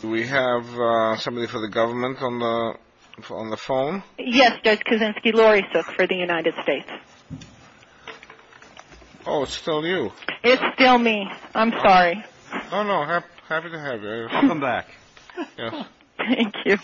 Do we have somebody for the government on the phone? Yes, there's Kaczynski-Lorisuk for the United States. Oh, it's still you. It's still me. I'm sorry. No, no, happy to have you. Welcome back. Thank you.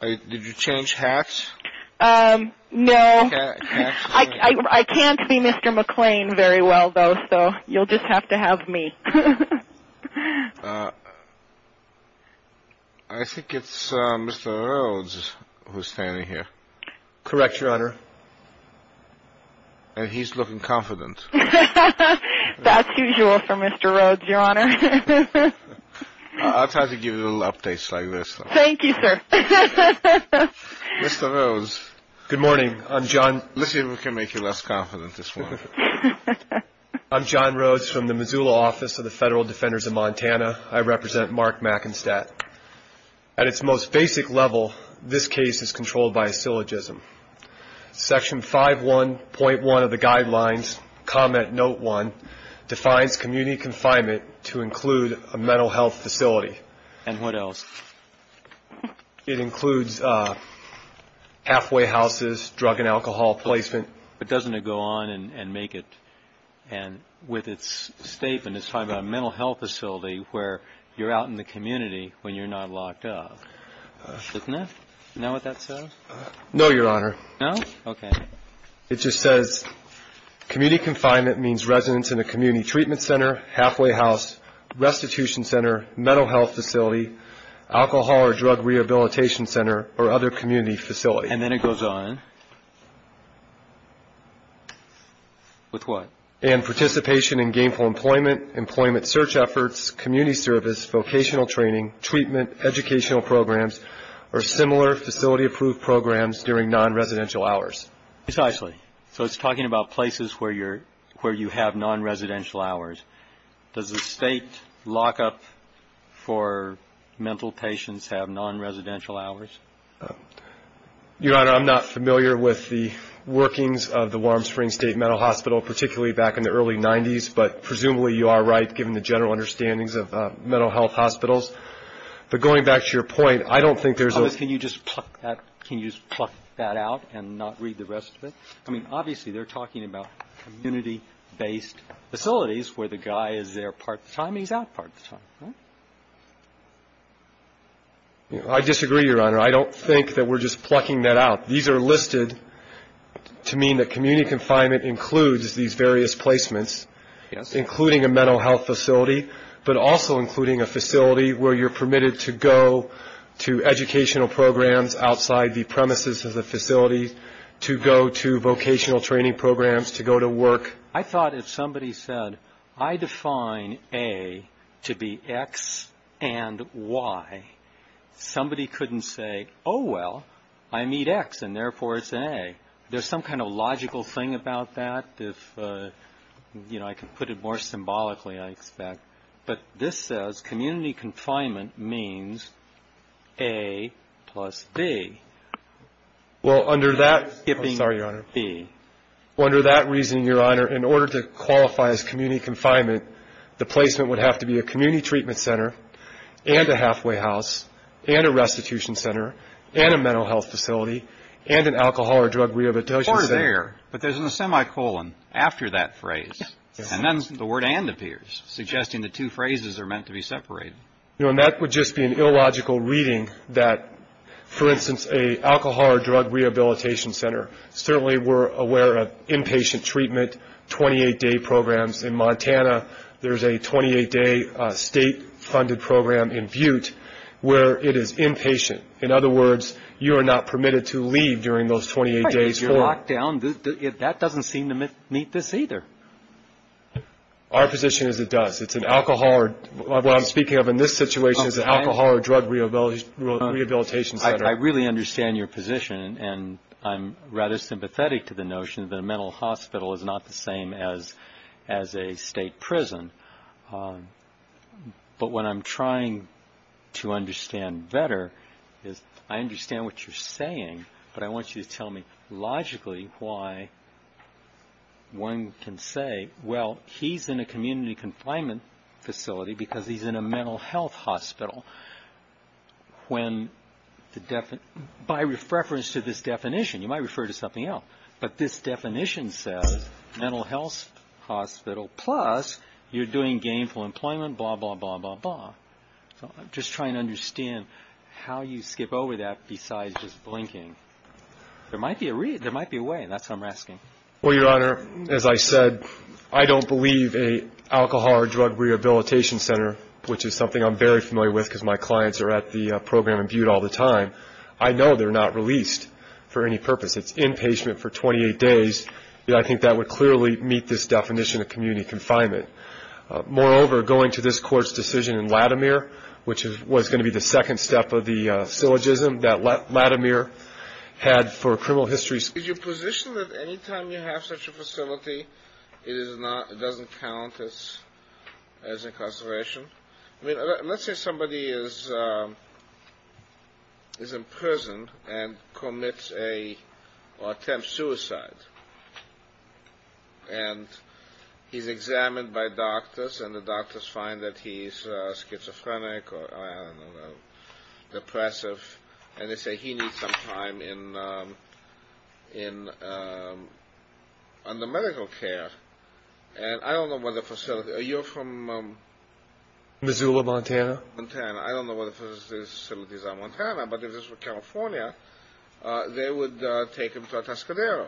Did you change hats? No. I can't be Mr. McClain very well, though, so you'll just have to have me. I think it's Mr. Rhodes who's standing here. Correct, Your Honor. And he's looking confident. That's usual for Mr. Rhodes, Your Honor. I'll try to give you little updates like this. Thank you, sir. Mr. Rhodes. Good morning. I'm John. Let's see if we can make you less confident this morning. I'm John Rhodes from the Missoula office of the Federal Defenders of Montana. I represent Mark Mackenstadt. At its most basic level, this case is controlled by a syllogism. Section 5.1 of the guidelines, comment note one, defines community confinement to include a mental health facility. And what else? It includes halfway houses, drug and alcohol placement. But doesn't it go on and make it, and with its statement, it's talking about a mental health facility where you're out in the community when you're not locked up. Isn't it? Is that what that says? No, Your Honor. No? Okay. It just says community confinement means residence in a community treatment center, halfway house, restitution center, mental health facility, alcohol or drug rehabilitation center, or other community facility. And then it goes on. With what? And participation in gainful employment, employment search efforts, community service, vocational training, treatment, educational programs, or similar facility-approved programs during non-residential hours. Precisely. So it's talking about places where you have non-residential hours. Does the state lockup for mental patients have non-residential hours? Your Honor, I'm not familiar with the workings of the Warm Springs State Mental Hospital, particularly back in the early 90s, but presumably you are right given the general understandings of mental health hospitals. But going back to your point, I don't think there's a ---- Can you just pluck that out and not read the rest of it? I mean, obviously, they're talking about community-based facilities where the guy is there part of the time and he's out part of the time, right? I disagree, Your Honor. I don't think that we're just plucking that out. These are listed to mean that community confinement includes these various placements, including a mental health facility, but also including a facility where you're permitted to go to educational programs outside the premises of the facility, to go to vocational training programs, to go to work. I thought if somebody said, I define A to be X and Y, somebody couldn't say, oh, well, I meet X and therefore it's an A. There's some kind of logical thing about that if, you know, I can put it more symbolically, I expect. But this says community confinement means A plus B. Well, under that ---- I'm sorry, Your Honor. B. Under that reasoning, Your Honor, in order to qualify as community confinement, the placement would have to be a community treatment center and a halfway house and a restitution center and a mental health facility and an alcohol or drug rehabilitation center. Or there, but there's a semicolon after that phrase. Yes. And then the word and appears, suggesting the two phrases are meant to be separated. You know, and that would just be an illogical reading that, for instance, an alcohol or drug rehabilitation center, certainly we're aware of inpatient treatment, 28-day programs. In Montana, there's a 28-day state-funded program in Butte where it is inpatient. In other words, you are not permitted to leave during those 28 days. Right. If you're locked down, that doesn't seem to meet this either. Our position is it does. What I'm speaking of in this situation is an alcohol or drug rehabilitation center. I really understand your position, and I'm rather sympathetic to the notion that a mental hospital is not the same as a state prison. But what I'm trying to understand better is I understand what you're saying, but I want you to tell me logically why one can say, well, he's in a community confinement facility because he's in a mental health hospital. By reference to this definition, you might refer to something else, but this definition says mental health hospital plus you're doing gainful employment, blah, blah, blah, blah, blah. So I'm just trying to understand how you skip over that besides just blinking. There might be a way, and that's what I'm asking. Well, Your Honor, as I said, I don't believe an alcohol or drug rehabilitation center, which is something I'm very familiar with because my clients are at the program in Butte all the time. I know they're not released for any purpose. It's inpatient for 28 days. I think that would clearly meet this definition of community confinement. Moreover, going to this court's decision in Latimer, which was going to be the second step of the syllogism that Latimer had for criminal history. Is your position that any time you have such a facility, it doesn't count as incarceration? I mean, let's say somebody is in prison and commits or attempts suicide. And he's examined by doctors, and the doctors find that he's schizophrenic or depressive, and they say he needs some time under medical care. And I don't know what the facility is. Are you from Missoula, Montana? I don't know what the facilities are in Montana, but if this were California, they would take him to a Tascadero,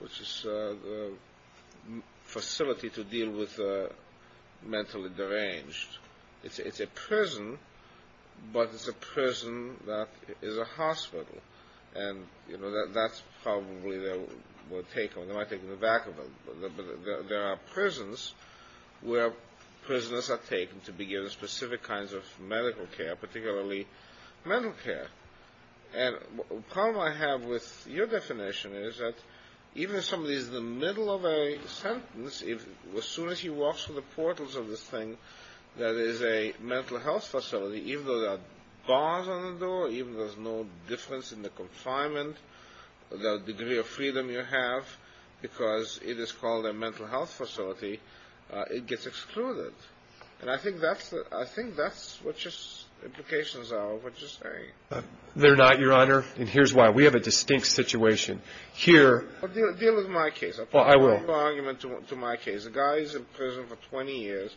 which is a facility to deal with mentally deranged. It's a prison, but it's a prison that is a hospital. And, you know, that's probably where they would take him. They might take him to Vakaville. But there are prisons where prisoners are taken to begin specific kinds of medical care, particularly mental care. And the problem I have with your definition is that even if somebody is in the middle of a sentence, as soon as he walks through the portals of this thing that is a mental health facility, even though there are bars on the door, even though there's no difference in the confinement, the degree of freedom you have, because it is called a mental health facility, it gets excluded. And I think that's what your implications are, what you're saying. They're not, Your Honor, and here's why. We have a distinct situation here. Deal with my case. I'll put a little argument to my case. The guy's in prison for 20 years.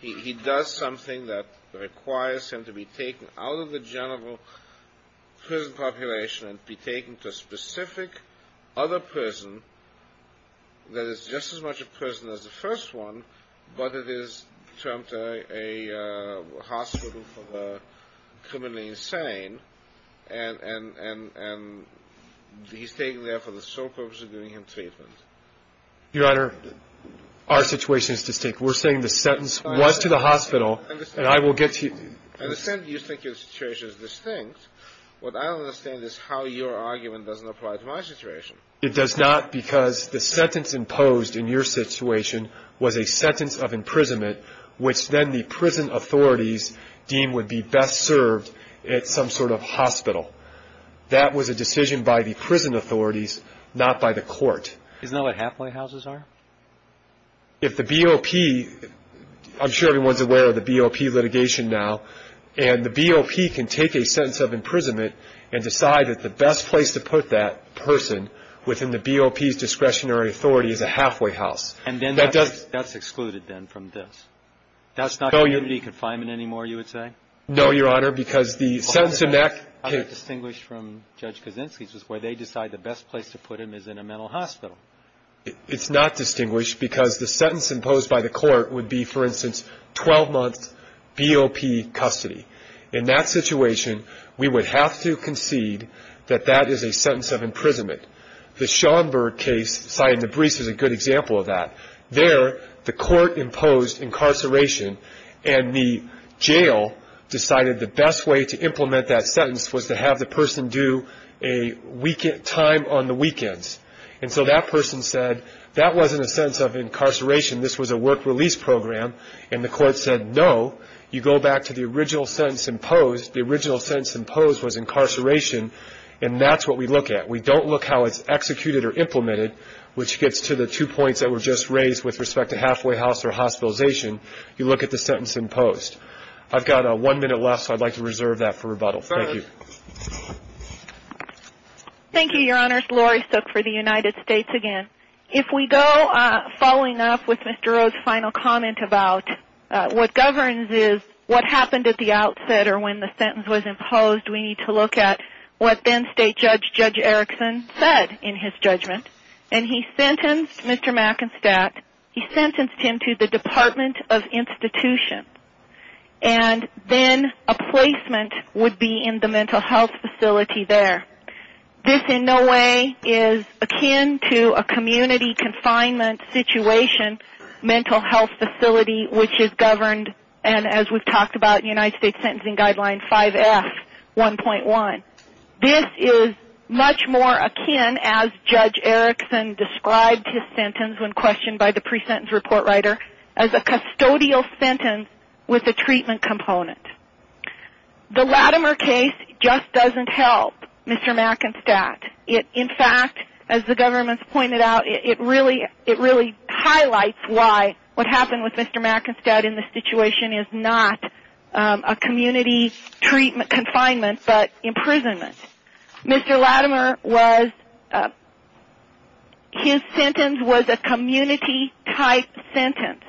He does something that requires him to be taken out of the general prison population and be taken to a specific other prison that is just as much a prison as the first one, but it is termed a hospital for the criminally insane. And he's taken there for the sole purpose of giving him treatment. Your Honor, our situation is distinct. We're saying the sentence was to the hospital, and I will get to you. I understand you think your situation is distinct. What I don't understand is how your argument doesn't apply to my situation. It does not because the sentence imposed in your situation was a sentence of imprisonment, which then the prison authorities deemed would be best served at some sort of hospital. That was a decision by the prison authorities, not by the court. Isn't that what halfway houses are? If the BOP, I'm sure everyone's aware of the BOP litigation now, and the BOP can take a sentence of imprisonment and decide that the best place to put that person within the BOP's discretionary authority is a halfway house. And then that's excluded then from this. That's not community confinement anymore, you would say? No, Your Honor, because the sentence in that case. What I distinguished from Judge Kaczynski's is where they decide the best place to put him is in a mental hospital. It's not distinguished because the sentence imposed by the court would be, for instance, 12-month BOP custody. In that situation, we would have to concede that that is a sentence of imprisonment. The Schomburg case cited in the briefs is a good example of that. There, the court imposed incarceration, and the jail decided the best way to implement that sentence was to have the person do a time on the weekends. And so that person said that wasn't a sentence of incarceration, this was a work release program, and the court said no, you go back to the original sentence imposed. The original sentence imposed was incarceration, and that's what we look at. We don't look at how it's executed or implemented, which gets to the two points that were just raised with respect to halfway house or hospitalization. You look at the sentence imposed. I've got one minute left, so I'd like to reserve that for rebuttal. Thank you. Thank you, Your Honor. Laurie Sook for the United States again. If we go following up with Mr. O's final comment about what governs is what happened at the outset or when the sentence was imposed, we need to look at what then State Judge, Judge Erickson, said in his judgment. And he sentenced Mr. Mackenstatt, he sentenced him to the Department of Institution, and then a placement would be in the mental health facility there. This in no way is akin to a community confinement situation mental health facility, which is governed, and as we've talked about in United States Sentencing Guideline 5F, 1.1. This is much more akin, as Judge Erickson described his sentence when questioned by the pre-sentence report writer, as a custodial sentence with a treatment component. The Latimer case just doesn't help Mr. Mackenstatt. In fact, as the government's pointed out, it really highlights why what happened with Mr. Mackenstatt in this situation is not a community confinement but imprisonment. Mr. Latimer was, his sentence was a community-type sentence.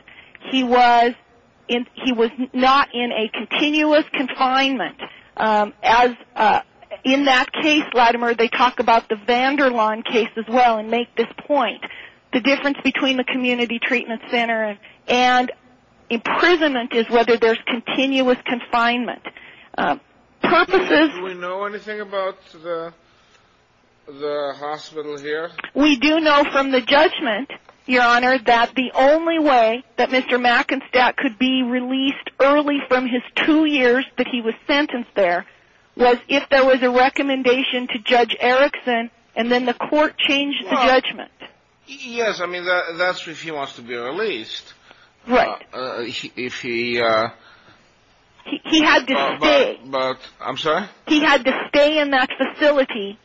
He was not in a continuous confinement. In that case, Latimer, they talk about the Vanderlaan case as well and make this point. The difference between the community treatment center and imprisonment is whether there's continuous confinement. Do we know anything about the hospital here? We do know from the judgment, Your Honor, that the only way that Mr. Mackenstatt could be released early from his two years that he was sentenced there was if there was a recommendation to Judge Erickson and then the court changed the judgment. Yes, I mean, that's if he wants to be released. Right. If he... He had to stay. I'm sorry? He had to stay in that facility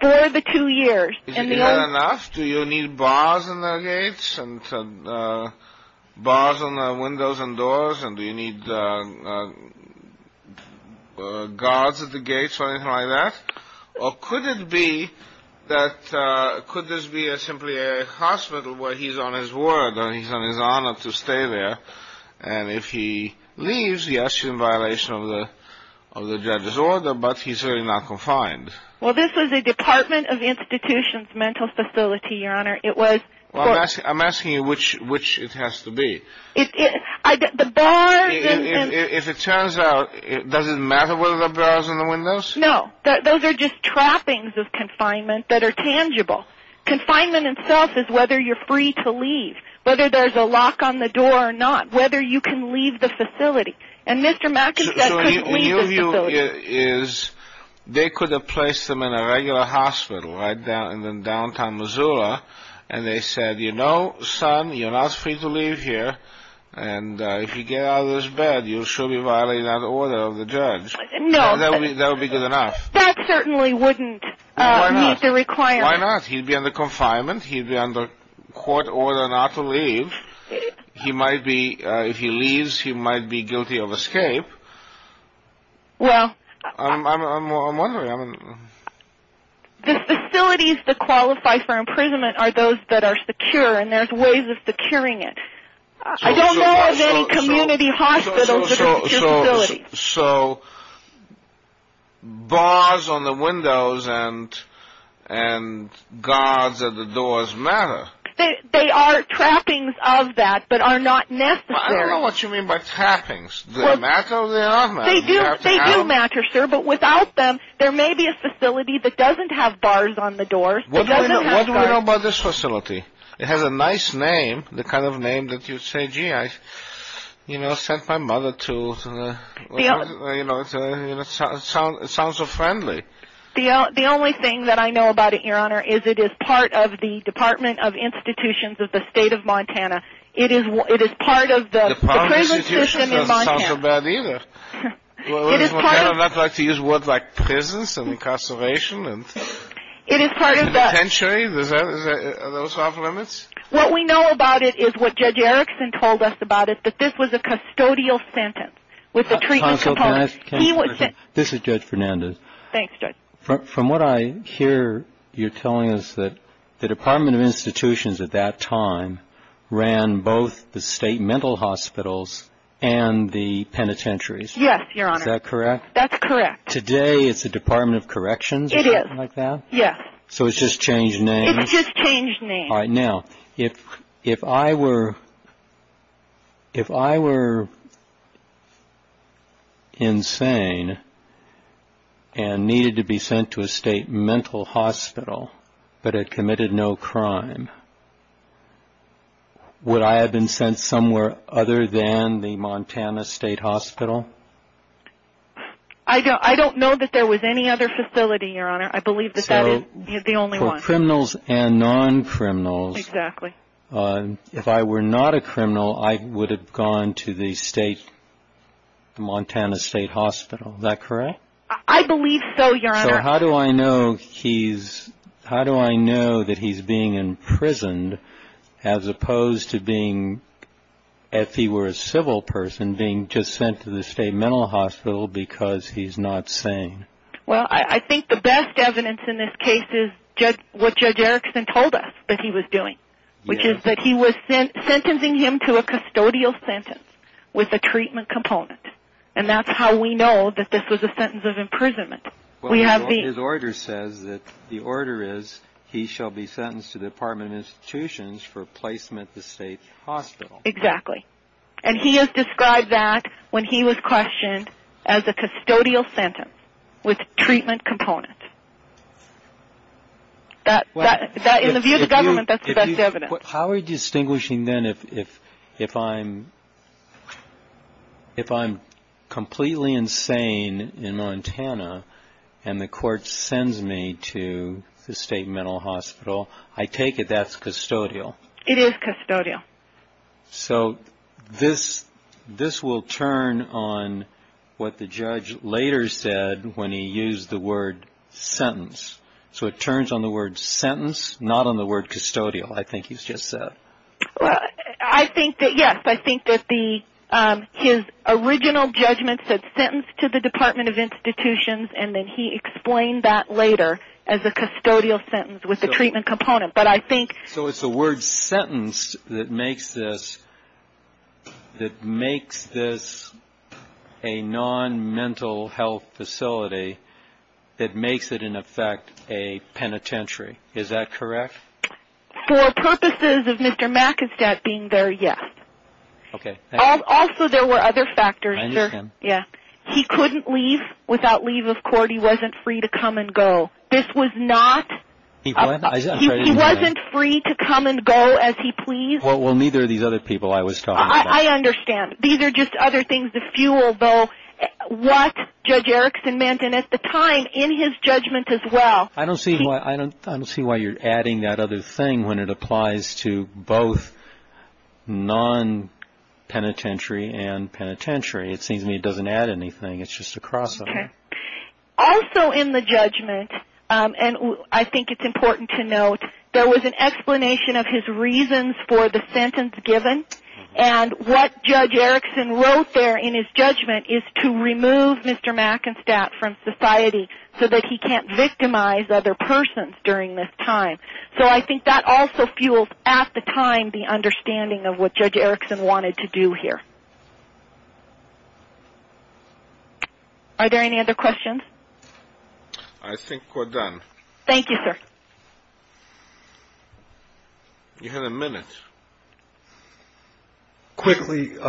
for the two years. Is that enough? Do you need bars in the gates and bars on the windows and doors? And do you need guards at the gates or anything like that? Or could it be that could this be simply a hospital where he's on his word and he's on his honor to stay there? And if he leaves, yes, in violation of the judge's order, but he's really not confined. Well, this is a Department of Institution's mental facility, Your Honor. It was... I'm asking you which it has to be. The bars and... If it turns out, does it matter whether there are bars on the windows? No. Those are just trappings of confinement that are tangible. Confinement itself is whether you're free to leave, whether there's a lock on the door or not, whether you can leave the facility. And Mr. Mackenstatt couldn't leave the facility. My view is they could have placed him in a regular hospital right down in downtown Missoula, and they said, you know, son, you're not free to leave here, and if you get out of this bed, you'll surely violate that order of the judge. No. That would be good enough. That certainly wouldn't meet the requirement. Why not? He'd be under court order not to leave. He might be... If he leaves, he might be guilty of escape. Well... I'm wondering. The facilities that qualify for imprisonment are those that are secure, and there's ways of securing it. I don't know of any community hospitals that are secure facilities. So... Bars on the windows and guards at the doors matter. They are trappings of that, but are not necessary. I don't know what you mean by trappings. Do they matter or do they not matter? They do matter, sir, but without them, there may be a facility that doesn't have bars on the doors. What do we know about this facility? It has a nice name, the kind of name that you'd say, gee, I sent my mother to. It sounds so friendly. The only thing that I know about it, Your Honor, is it is part of the Department of Institutions of the State of Montana. It is part of the prison system in Montana. The Department of Institutions doesn't sound so bad either. It is part of... I'd like to use words like prisons and incarceration and... It is part of the... ...and the pension. Are those off limits? What we know about it is what Judge Erickson told us about it, that this was a custodial sentence with the treatment component. Counsel, can I ask a question? This is Judge Fernandez. Thanks, Judge. From what I hear, you're telling us that the Department of Institutions at that time ran both the state mental hospitals and the penitentiaries. Yes, Your Honor. Is that correct? That's correct. Today, it's the Department of Corrections or something like that? It is, yes. So it's just changed names? It's just changed names. All right, now, if I were insane and needed to be sent to a state mental hospital but had committed no crime, would I have been sent somewhere other than the Montana State Hospital? I don't know that there was any other facility, Your Honor. I believe that that is the only one. For criminals and non-criminals, if I were not a criminal, I would have gone to the Montana State Hospital. Is that correct? I believe so, Your Honor. So how do I know that he's being imprisoned as opposed to being, if he were a civil person, being just sent to the state mental hospital because he's not sane? Well, I think the best evidence in this case is what Judge Erickson told us that he was doing, which is that he was sentencing him to a custodial sentence with a treatment component. And that's how we know that this was a sentence of imprisonment. His order says that the order is he shall be sentenced to the Department of Institutions for placement at the state hospital. Exactly. And he has described that when he was questioned as a custodial sentence with treatment components. In the view of the government, that's the best evidence. How are you distinguishing then if I'm completely insane in Montana and the court sends me to the state mental hospital, I take it that's custodial? It is custodial. So this will turn on what the judge later said when he used the word sentence. So it turns on the word sentence, not on the word custodial, I think he's just said. I think that, yes, I think that his original judgment said sentence to the Department of Institutions, and then he explained that later as a custodial sentence with a treatment component. So it's the word sentence that makes this a non-mental health facility that makes it, in effect, a penitentiary. Is that correct? For purposes of Mr. McInstead being there, yes. Also, there were other factors. He couldn't leave without leave of court. He wasn't free to come and go. He wasn't free to come and go as he pleased? Well, neither of these other people I was talking about. I understand. These are just other things to fuel, though, what Judge Erickson meant, and at the time, in his judgment as well. I don't see why you're adding that other thing when it applies to both non-penitentiary and penitentiary. It seems to me it doesn't add anything. It's just a crossover. Also in the judgment, and I think it's important to note, there was an explanation of his reasons for the sentence given, and what Judge Erickson wrote there in his judgment is to remove Mr. McInstead from society so that he can't victimize other persons during this time. So I think that also fuels, at the time, the understanding of what Judge Erickson wanted to do here. Are there any other questions? I think we're done. Thank you, sir. You have a minute. Quickly, in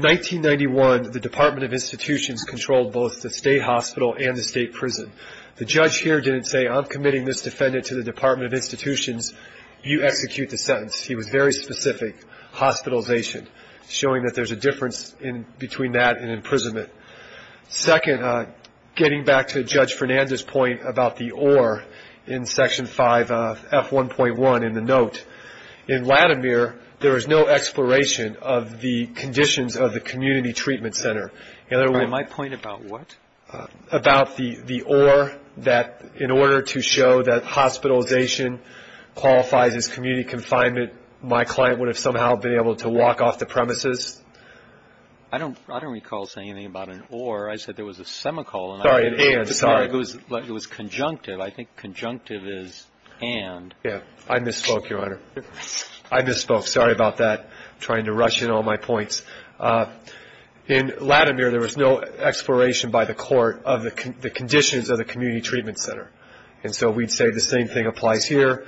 1991, the Department of Institutions controlled both the state hospital and the state prison. The judge here didn't say, I'm committing this defendant to the Department of Institutions, you execute the sentence. He was very specific, hospitalization, showing that there's a difference between that and imprisonment. Second, getting back to Judge Fernandez's point about the or in Section 5F1.1 in the note, in Latimer, there is no exploration of the conditions of the community treatment center. My point about what? About the or, that in order to show that hospitalization qualifies as community confinement, my client would have somehow been able to walk off the premises? I don't recall saying anything about an or. I said there was a semicolon. Sorry, and. It was conjunctive. I think conjunctive is and. I misspoke, Your Honor. I misspoke. Sorry about that. Trying to rush in all my points. In Latimer, there was no exploration by the court of the conditions of the community treatment center. And so we'd say the same thing applies here.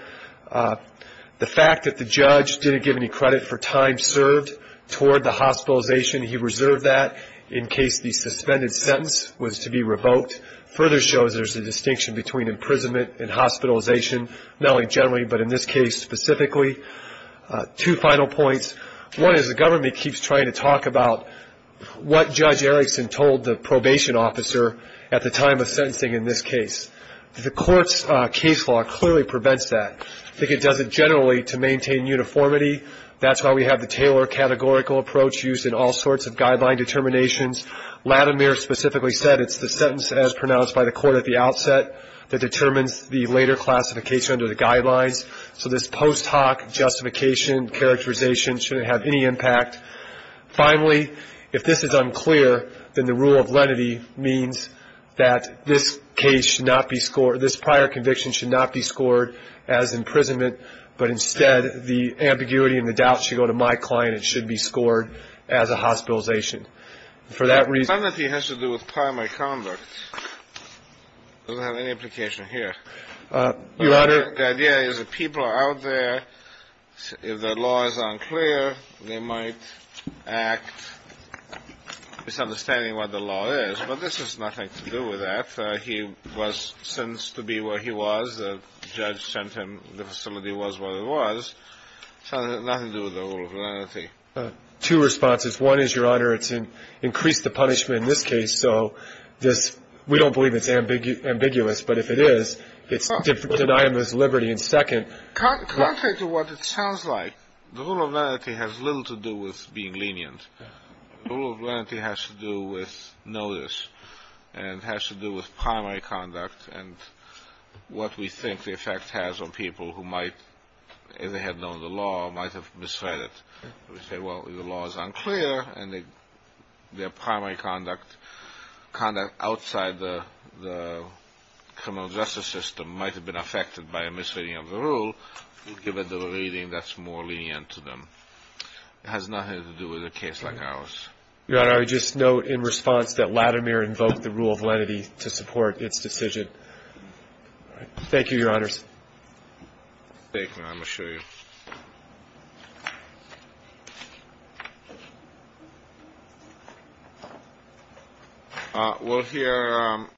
The fact that the judge didn't give any credit for time served toward the hospitalization, he reserved that in case the suspended sentence was to be revoked, further shows there's a distinction between imprisonment and hospitalization, not only generally, but in this case specifically. Two final points. One is the government keeps trying to talk about what Judge Erickson told the probation officer at the time of sentencing in this case. The court's case law clearly prevents that. I think it does it generally to maintain uniformity. That's why we have the Taylor categorical approach used in all sorts of guideline determinations. Latimer specifically said it's the sentence as pronounced by the court at the outset that determines the later classification under the guidelines. So this post hoc justification characterization shouldn't have any impact. Finally, if this is unclear, then the rule of lenity means that this case should not be scored, this prior conviction should not be scored as imprisonment, but instead the ambiguity and the doubt should go to my client. It should be scored as a hospitalization. And for that reason ---- The lenity has to do with primary conduct. It doesn't have any implication here. Your Honor ---- The idea is that people are out there. If the law is unclear, they might act misunderstanding what the law is. But this has nothing to do with that. He was sentenced to be where he was. The judge sent him. The facility was what it was. It has nothing to do with the rule of lenity. Two responses. One is, Your Honor, it's increased the punishment in this case. So this ---- we don't believe it's ambiguous. But if it is, it's denying this liberty. And second ---- Contrary to what it sounds like, the rule of lenity has little to do with being lenient. The rule of lenity has to do with notice and has to do with primary conduct and what we think the effect has on people who might, if they had known the law, might have misread it. We say, well, the law is unclear, and their primary conduct, conduct outside the criminal justice system, might have been affected by a misreading of the rule, given the reading that's more lenient to them. It has nothing to do with a case like ours. Your Honor, I would just note in response that Latimer invoked the rule of lenity to support its decision. Thank you, Your Honors. Thank you. I'm going to show you.